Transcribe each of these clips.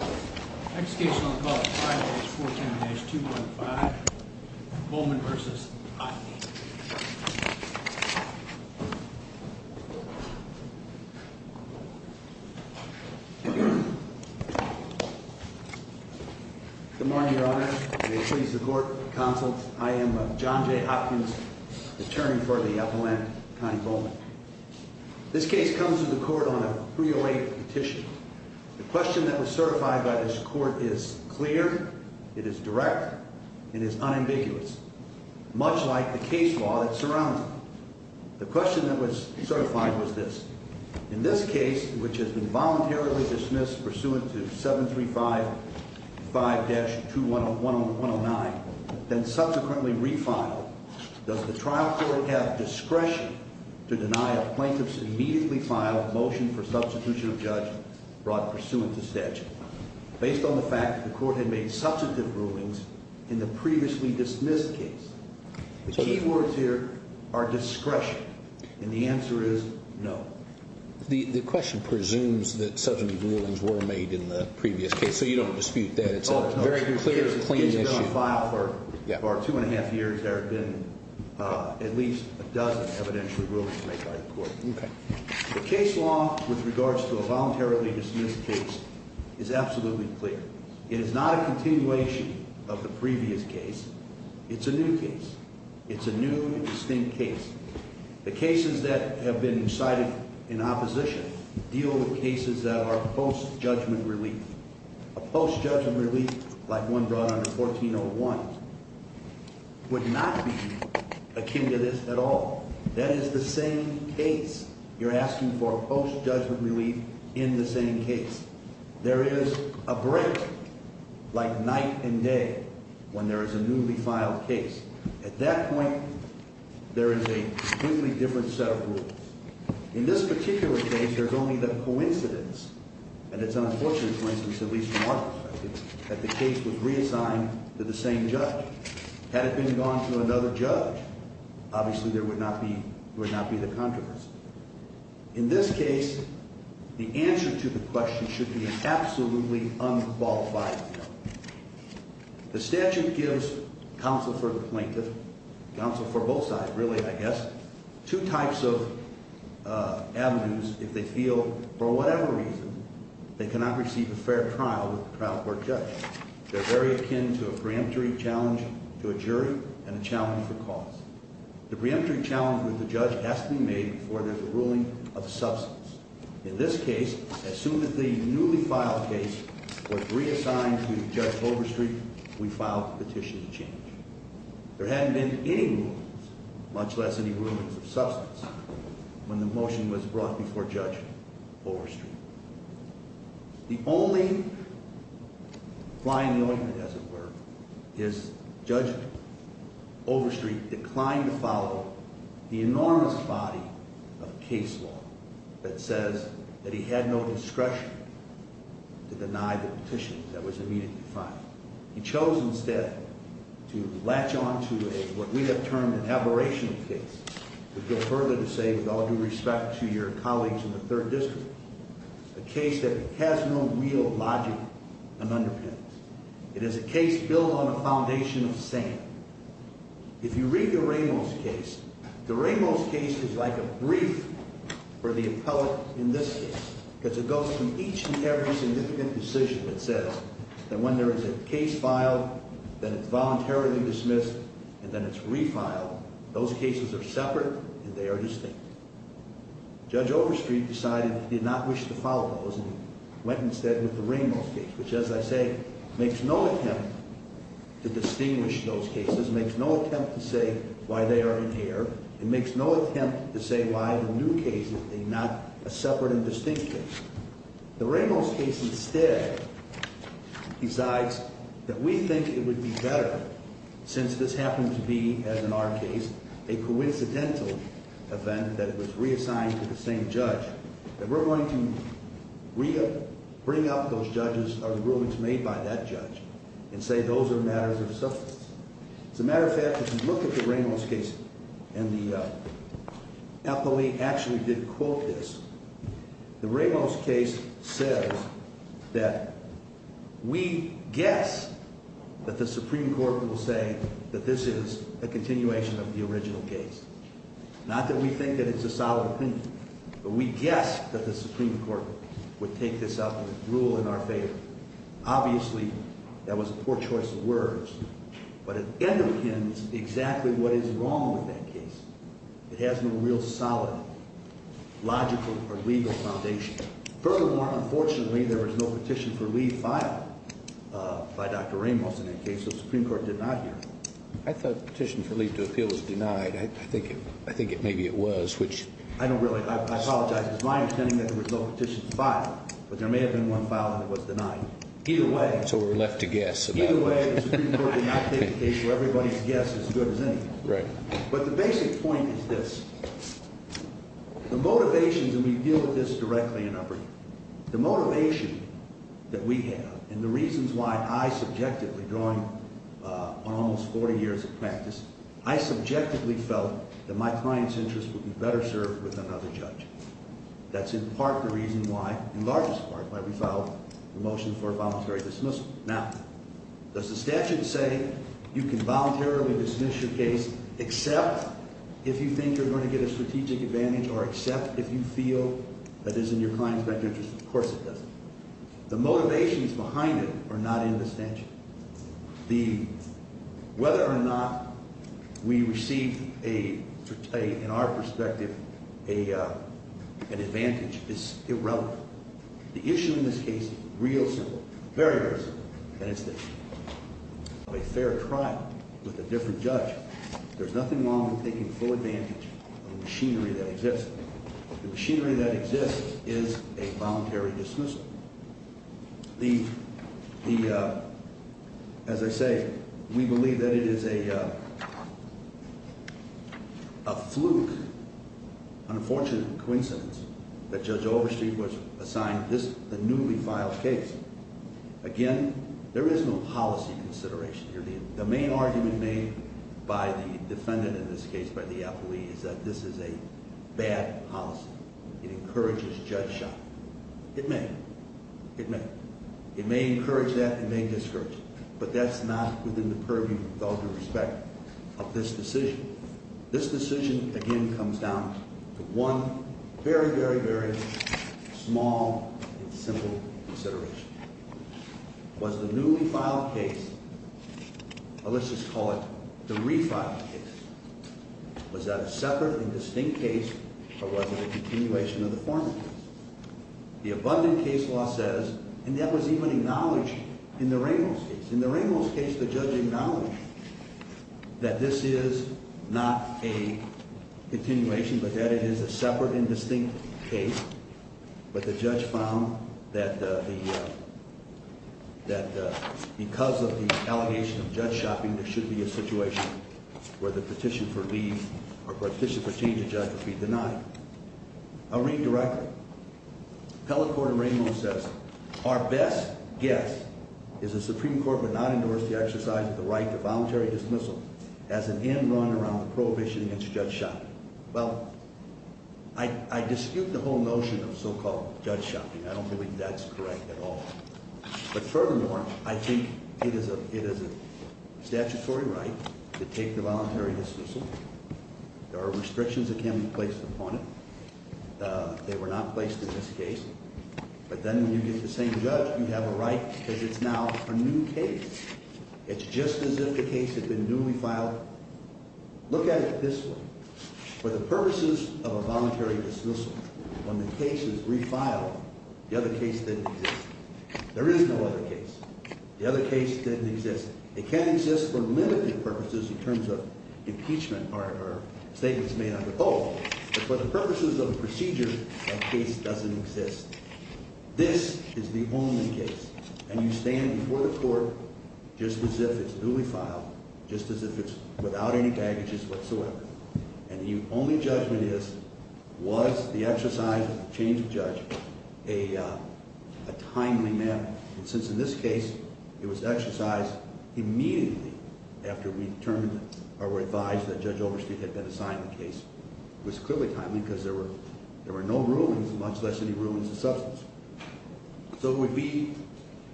Next case on the court is 5-410-215, Bowman v. Ottney. Good morning, Your Honor. May it please the court, counsel. I am John J. Hopkins, attorney for the Appalachian County Bowman. This case comes to the court on a 308 petition. The question that was certified by this court is clear, it is direct, and it is unambiguous, much like the case law that surrounds it. The question that was certified was this. In this case, which has been voluntarily dismissed pursuant to 735-5-21109, then subsequently refiled, does the trial court have discretion to deny a plaintiff's immediately filed motion for substitution of judge brought pursuant to statute, based on the fact that the court had made substantive rulings in the previously dismissed case? The key words here are discretion, and the answer is no. The question presumes that substantive rulings were made in the previous case, so you don't dispute that. Oh, no. It's been on file for two and a half years. There have been at least a dozen evidential rulings made by the court. The case law with regards to a voluntarily dismissed case is absolutely clear. It is not a continuation of the previous case. It's a new case. It's a new and distinct case. The cases that have been cited in opposition deal with cases that are post-judgment relief. A post-judgment relief like one brought under 1401 would not be akin to this at all. That is the same case. You're asking for a post-judgment relief in the same case. There is a break, like night and day, when there is a newly filed case. At that point, there is a completely different set of rules. In this particular case, there's only the coincidence, and it's an unfortunate coincidence, at least from our perspective, that the case was reassigned to the same judge. Had it been gone to another judge, obviously there would not be the controversy. In this case, the answer to the question should be an absolutely unqualified answer. The statute gives counsel for the plaintiff – counsel for both sides, really, I guess – two types of avenues if they feel, for whatever reason, they cannot receive a fair trial with the trial court judge. They're very akin to a preemptory challenge to a jury and a challenge for cause. The preemptory challenge with the judge has to be made before there's a ruling of substance. In this case, as soon as the newly filed case was reassigned to Judge Overstreet, we filed a petition to change. There hadn't been any rulings, much less any rulings of substance, when the motion was brought before Judge Overstreet. The only fly in the ointment, as it were, is Judge Overstreet declined to follow the enormous body of case law that says that he had no discretion to deny the petition that was immediately filed. He chose instead to latch on to what we have termed an aberrational case, to go further to say, with all due respect to your colleagues in the Third District, a case that has no real logic and underpinnings. It is a case built on a foundation of sand. If you read the Ramos case, the Ramos case is like a brief for the appellate in this case, because it goes from each and every significant decision that says that when there is a case filed, then it's voluntarily dismissed, and then it's refiled, those cases are separate and they are distinct. Judge Overstreet decided he did not wish to follow those and went instead with the Ramos case, which, as I say, makes no attempt to distinguish those cases, makes no attempt to say why they are in error, and makes no attempt to say why the new case is not a separate and distinct case. The Ramos case instead decides that we think it would be better, since this happened to be, as in our case, a coincidental event that it was reassigned to the same judge, that we're going to bring up those judgments or rulings made by that judge and say those are matters of substance. As a matter of fact, if you look at the Ramos case, and the appellate actually did quote this, the Ramos case says that we guess that the Supreme Court will say that this is a continuation of the original case. Not that we think that it's a solid opinion, but we guess that the Supreme Court would take this up and rule in our favor. Obviously, that was a poor choice of words, but it underpins exactly what is wrong with that case. It has no real solid logical or legal foundation. Furthermore, unfortunately, there was no petition for leave filed by Dr. Ramos in that case, so the Supreme Court did not hear it. I thought the petition for leave to appeal was denied. I think maybe it was. I don't really. I apologize. It's my understanding that there was no petition filed, but there may have been one filed and it was denied. So we're left to guess. Either way, the Supreme Court did not take the case to everybody's guess as good as any. Right. But the basic point is this. The motivations, and we deal with this directly in our brief, the motivation that we have and the reasons why I subjectively, going on almost 40 years of practice, I subjectively felt that my client's interest would be better served with another judge. That's in part the reason why, in largest part, why we filed the motion for a voluntary dismissal. Now, does the statute say you can voluntarily dismiss your case except if you think you're going to get a strategic advantage or except if you feel that it's in your client's best interest? Of course it doesn't. The motivations behind it are not in the statute. The – whether or not we receive a – in our perspective, an advantage is irrelevant. The issue in this case is real simple, very, very simple, and it's the issue of a fair trial with a different judge. There's nothing wrong with taking full advantage of the machinery that exists. The machinery that exists is a voluntary dismissal. The – as I say, we believe that it is a fluke, unfortunate coincidence that Judge Overstreet was assigned this – the newly filed case. Again, there is no policy consideration here. The main argument made by the defendant in this case, by the affilee, is that this is a bad policy. It encourages judge shock. It may. It may encourage that. It may discourage it. But that's not within the purview, with all due respect, of this decision. This decision, again, comes down to one very, very, very small and simple consideration. Was the newly filed case – well, let's just call it the refiled case. Was that a separate and distinct case or was it a continuation of the former case? The abundant case law says – and that was even acknowledged in the Ramos case. In the Ramos case, the judge acknowledged that this is not a continuation, but that it is a separate and distinct case. But the judge found that the – that because of the allegation of judge shocking, there should be a situation where the petition for leave or petition for change of judge would be denied. I'll read directly. Appellate Court of Ramos says, Our best guess is the Supreme Court would not endorse the exercise of the right to voluntary dismissal as an end run around the prohibition against judge shocking. Well, I dispute the whole notion of so-called judge shocking. I don't believe that's correct at all. But furthermore, I think it is a statutory right to take the voluntary dismissal. There are restrictions that can be placed upon it. They were not placed in this case. But then when you get the same judge, you have a right because it's now a new case. It's just as if the case had been newly filed. Look at it this way. For the purposes of a voluntary dismissal, when the case is refiled, the other case didn't exist. There is no other case. The other case didn't exist. It can exist for limited purposes in terms of impeachment or statements made under oath. But for the purposes of a procedure, a case doesn't exist. This is the only case. And you stand before the court just as if it's newly filed, just as if it's without any baggages whatsoever. And the only judgment is, was the exercise of change of judge a timely matter? And since in this case, it was exercised immediately after we determined or were advised that Judge Overstreet had been assigned the case, it was clearly timely because there were no rulings, much less any rulings of substance. So it would be,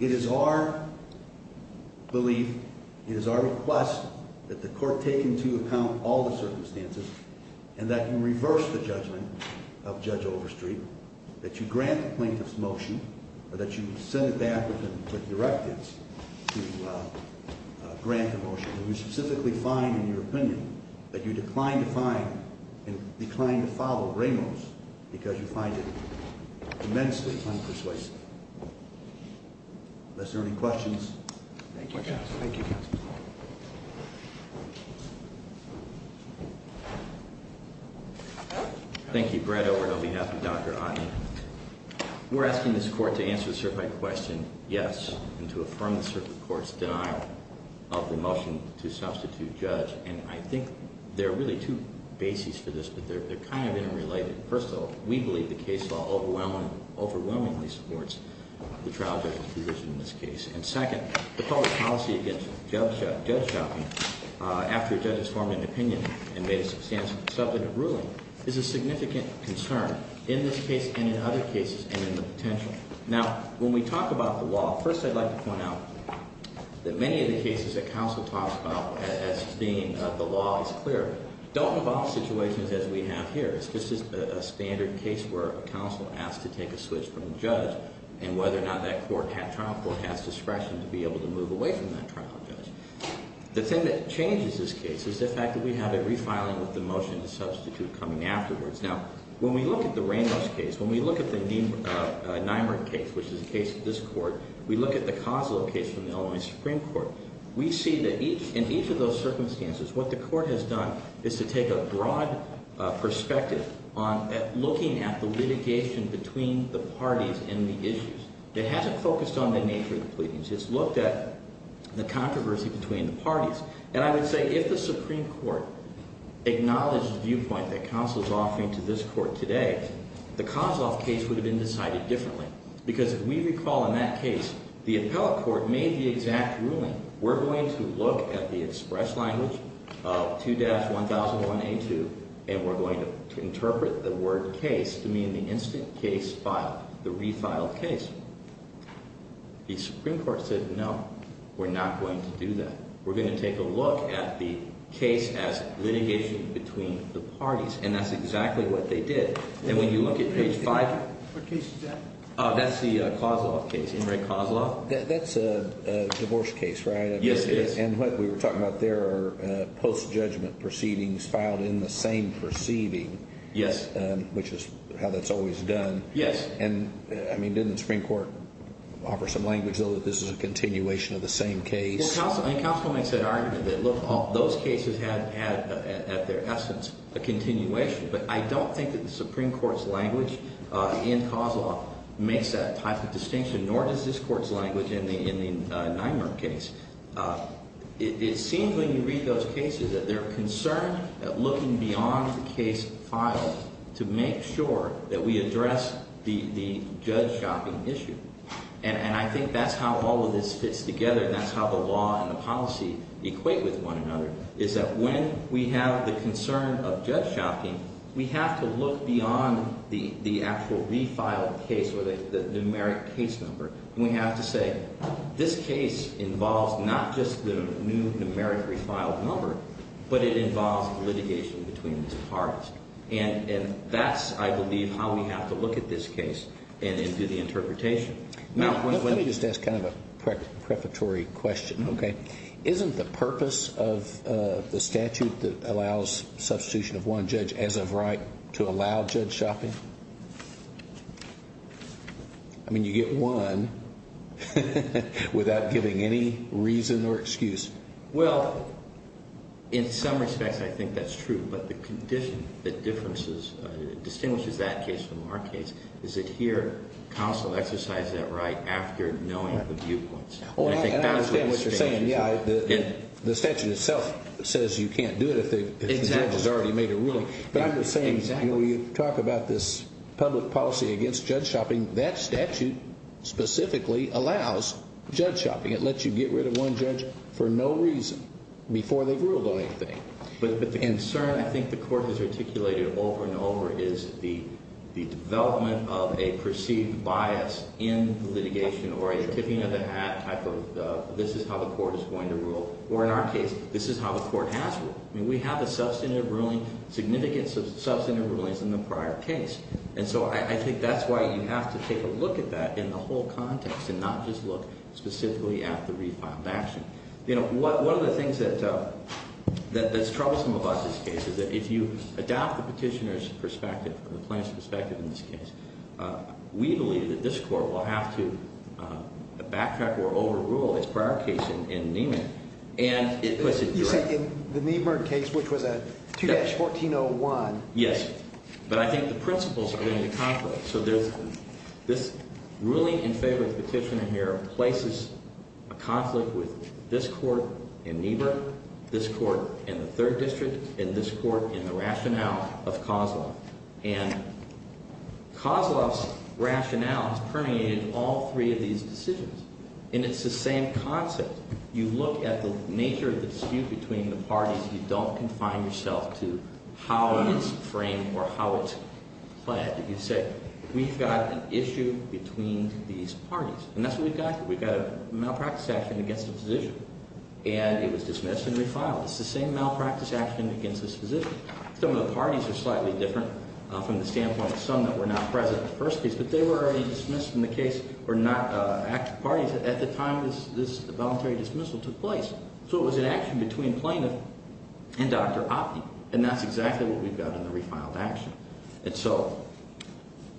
it is our belief, it is our request that the court take into account all the circumstances and that you reverse the judgment of Judge Overstreet, that you grant the plaintiff's motion, or that you send it back with directives to grant the motion. And we specifically find, in your opinion, that you decline to find and decline to follow Ramos because you find it immensely unpersuasive. Unless there are any questions. Thank you, counsel. Thank you. Thank you, Brett, on behalf of Dr. Otten. We're asking this court to answer the certified question, yes, and to affirm the circuit court's denial of the motion to substitute judge. And I think there are really two bases for this, but they're kind of interrelated. First of all, we believe the case law overwhelmingly supports the trial judge's provision in this case. And second, the public policy against judge shopping, after a judge has formed an opinion and made a substantive ruling, is a significant concern in this case and in other cases and in the potential. Now, when we talk about the law, first I'd like to point out that many of the cases that counsel talks about as being the law is clear, don't involve situations as we have here. This is a standard case where a counsel asks to take a switch from a judge and whether or not that trial court has discretion to be able to move away from that trial judge. The thing that changes this case is the fact that we have a refiling of the motion to substitute coming afterwards. Now, when we look at the Ramos case, when we look at the Nymer case, which is the case of this court, we look at the Kozlo case from the Illinois Supreme Court, we see that in each of those circumstances, what the court has done is to take a broad perspective on looking at the litigation between the parties and the issues. It hasn't focused on the nature of the pleadings. It's looked at the controversy between the parties. And I would say if the Supreme Court acknowledged the viewpoint that counsel is offering to this court today, the Kozloff case would have been decided differently. Because if we recall in that case, the appellate court made the exact ruling, we're going to look at the express language of 2-1001A2, and we're going to interpret the word case to mean the instant case filed, the refiled case. The Supreme Court said, no, we're not going to do that. We're going to take a look at the case as litigation between the parties, and that's exactly what they did. And when you look at page 5, that's the Kozloff case. That's a divorce case, right? Yes, it is. And what we were talking about there are post-judgment proceedings filed in the same proceeding. Yes. Which is how that's always done. Yes. And didn't the Supreme Court offer some language, though, that this is a continuation of the same case? Well, Counsel, I mean, Counsel makes that argument that, look, those cases have had, at their essence, a continuation. But I don't think that the Supreme Court's language in Kozloff makes that type of distinction, nor does this Court's language in the Nymer case. It seems when you read those cases that they're concerned at looking beyond the case filed to make sure that we address the judge shopping issue. And I think that's how all of this fits together, and that's how the law and the policy equate with one another, is that when we have the concern of judge shopping, we have to look beyond the actual refiled case or the numeric case number. And we have to say, this case involves not just the new numeric refiled number, but it involves litigation between the parties. And that's, I believe, how we have to look at this case and do the interpretation. Now, let me just ask kind of a preparatory question, okay? Isn't the purpose of the statute that allows substitution of one judge as of right to allow judge shopping? I mean, you get one without giving any reason or excuse. Well, in some respects, I think that's true. But the condition that distinguishes that case from our case is that here, counsel exercises that right after knowing the viewpoints. And I understand what you're saying. The statute itself says you can't do it if the judge has already made a ruling. But I'm just saying, when you talk about this public policy against judge shopping, that statute specifically allows judge shopping. It lets you get rid of one judge for no reason before they've ruled on anything. But the concern I think the court has articulated over and over is the development of a perceived bias in litigation or a tipping of the hat type of, this is how the court is going to rule. Or in our case, this is how the court has ruled. I mean, we have a substantive ruling, significant substantive rulings in the prior case. And so I think that's why you have to take a look at that in the whole context and not just look specifically at the refiled action. You know, one of the things that's troublesome about this case is that if you adopt the petitioner's perspective or the plaintiff's perspective in this case, we believe that this court will have to backtrack or overrule its prior case in Niemann. And it puts it directly. You said in the Niemann case, which was a 2-1401. Yes, but I think the principles are going to conflict. So there's this ruling in favor of the petitioner here places a conflict with this court in Niemann, this court in the Third District, and this court in the rationale of Kozloff. And Kozloff's rationale is permeated in all three of these decisions. And it's the same concept. You look at the nature of the dispute between the parties. You don't confine yourself to how it's framed or how it's played. You say, we've got an issue between these parties. And that's what we've got. We've got a malpractice action against a physician. And it was dismissed and refiled. It's the same malpractice action against this physician. Some of the parties are slightly different from the standpoint of some that were not present in the first case. But they were already dismissed in the case or not active parties at the time. This voluntary dismissal took place. So it was an action between plaintiff and Dr. Opney. And that's exactly what we've got in the refiled action. And so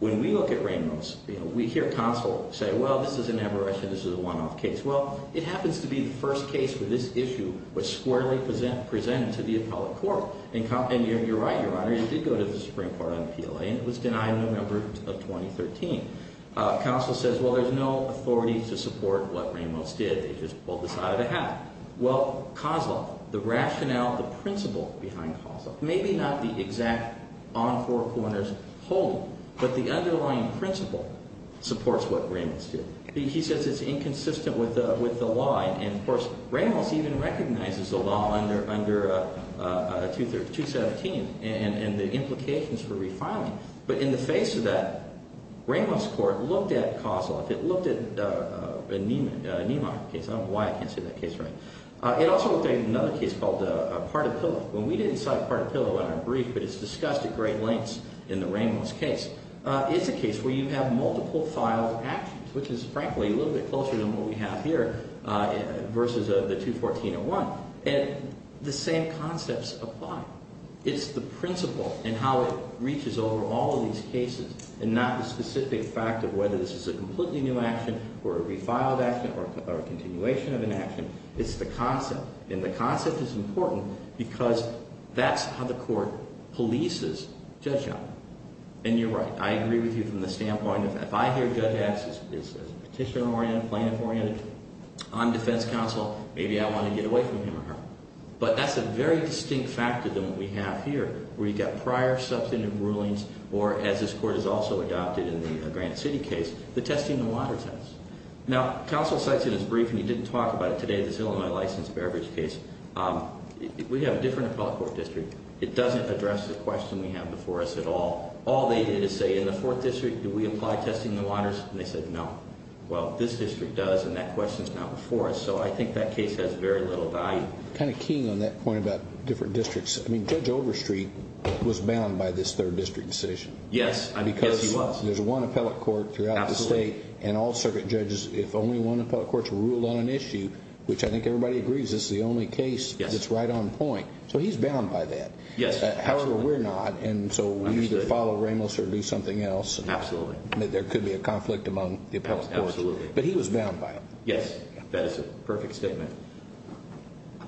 when we look at Ramos, we hear counsel say, well, this is an aberration. This is a one-off case. Well, it happens to be the first case for this issue which squarely presented to the appellate court. And you're right, Your Honor. It did go to the Supreme Court on PLA. And it was denied November of 2013. Counsel says, well, there's no authority to support what Ramos did. They just pulled this out of the hat. Well, Kozloff, the rationale, the principle behind Kozloff, maybe not the exact on four corners holding, but the underlying principle supports what Ramos did. He says it's inconsistent with the law. And, of course, Ramos even recognizes the law under 217 and the implications for refiling. But in the face of that, Ramos court looked at Kozloff. It looked at a Niemeyer case. I don't know why I can't say that case right. It also looked at another case called Partapillo. And we didn't cite Partapillo in our brief, but it's discussed at great lengths in the Ramos case. It's a case where you have multiple filed actions, which is, frankly, a little bit closer than what we have here versus the 214-01. And the same concepts apply. It's the principle and how it reaches over all of these cases and not the specific fact of whether this is a completely new action or a refiled action or a continuation of an action. It's the concept. And the concept is important because that's how the court polices Judge Young. And you're right. I agree with you from the standpoint of if I hear Judge X is petition oriented, plaintiff oriented, on defense counsel, maybe I want to get away from him or her. But that's a very distinct factor than what we have here, where you've got prior substantive rulings or, as this court has also adopted in the Grant City case, the testing the waters test. Now, counsel cites in his brief, and he didn't talk about it today, this Illinois license beverage case. We have a different appellate court district. It doesn't address the question we have before us at all. All they did is say, in the fourth district, do we apply testing the waters? And they said, no. Well, this district does, and that question's not before us. So I think that case has very little value. And I agree with Attorney King on that point about different districts. I mean, Judge Overstreet was bound by this third district decision. Yes, he was. Because there's one appellate court throughout the state, and all circuit judges, if only one appellate court's ruled on an issue, which I think everybody agrees is the only case that's right on point. So he's bound by that. However, we're not, and so we either follow Ramos or do something else. Absolutely. There could be a conflict among the appellate courts. But he was bound by it. Yes, that is a perfect statement.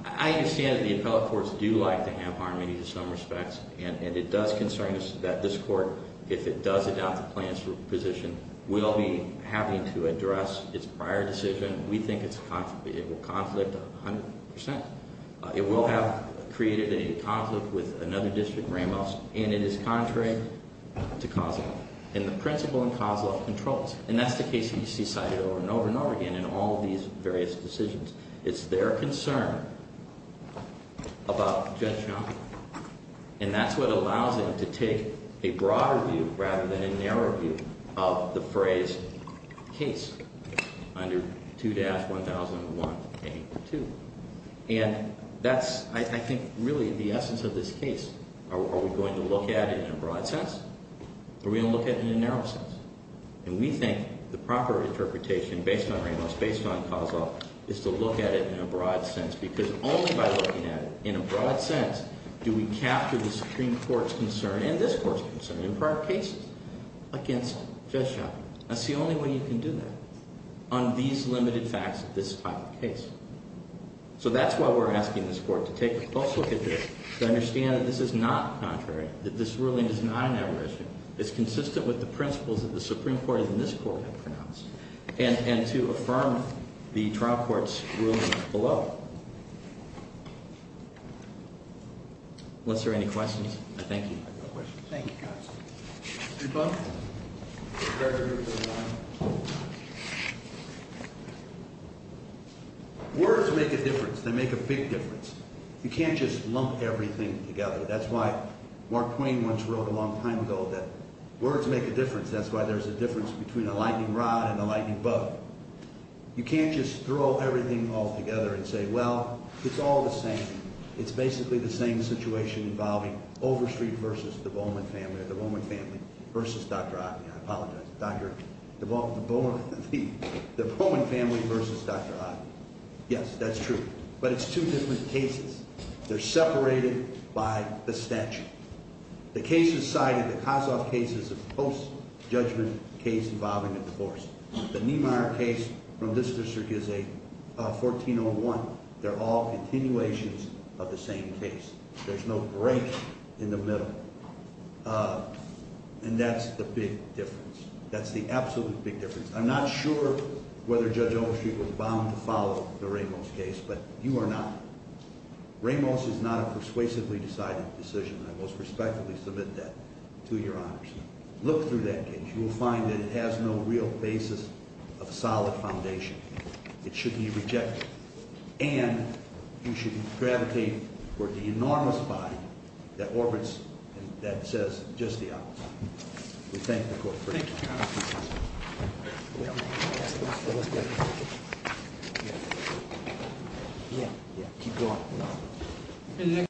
I understand that the appellate courts do like to have harmony in some respects, and it does concern us that this court, if it does adopt the plan's position, will be having to address its prior decision. We think it will conflict 100%. It will have created a conflict with another district, Ramos, and it is contrary to COSLA. And the principle in COSLA controls. And that's the case that you see cited over and over and over again in all these various decisions. It's their concern about Judge Young, and that's what allows it to take a broader view rather than a narrow view of the phrase case under 2-1001A2. And that's, I think, really the essence of this case. Are we going to look at it in a broad sense? Are we going to look at it in a narrow sense? And we think the proper interpretation based on Ramos, based on COSLA, is to look at it in a broad sense, because only by looking at it in a broad sense do we capture the Supreme Court's concern and this Court's concern in prior cases against Judge Young. That's the only way you can do that on these limited facts of this type of case. So that's why we're asking this Court to take a close look at this, to understand that this is not contrary, that this ruling is not an aberration. It's consistent with the principles that the Supreme Court and this Court have pronounced, and to affirm the trial court's ruling below. Unless there are any questions. Thank you. Thank you, counsel. Words make a difference. They make a big difference. You can't just lump everything together. That's why Mark Twain once wrote a long time ago that words make a difference. That's why there's a difference between a lightning rod and a lightning bolt. You can't just throw everything all together and say, well, it's all the same. It's basically the same situation involving Overstreet v. the Bowman family, or the Bowman family v. Dr. Otten. I apologize. The Bowman family v. Dr. Otten. Yes, that's true. But it's two different cases. They're separated by the statute. The cases cited, the Kossoff case is a post-judgment case involving a divorce. The Niemeyer case from this district is a 1401. They're all continuations of the same case. There's no break in the middle, and that's the big difference. That's the absolute big difference. I'm not sure whether Judge Overstreet was bound to follow the Ramos case, but you are not. Ramos is not a persuasively decided decision, and I most respectfully submit that to your honors. Look through that case. You will find that it has no real basis of solid foundation. It should be rejected. And you should gravitate toward the enormous body that orbits and that says just the opposite. We thank the Court for your time. Thank you, Your Honor.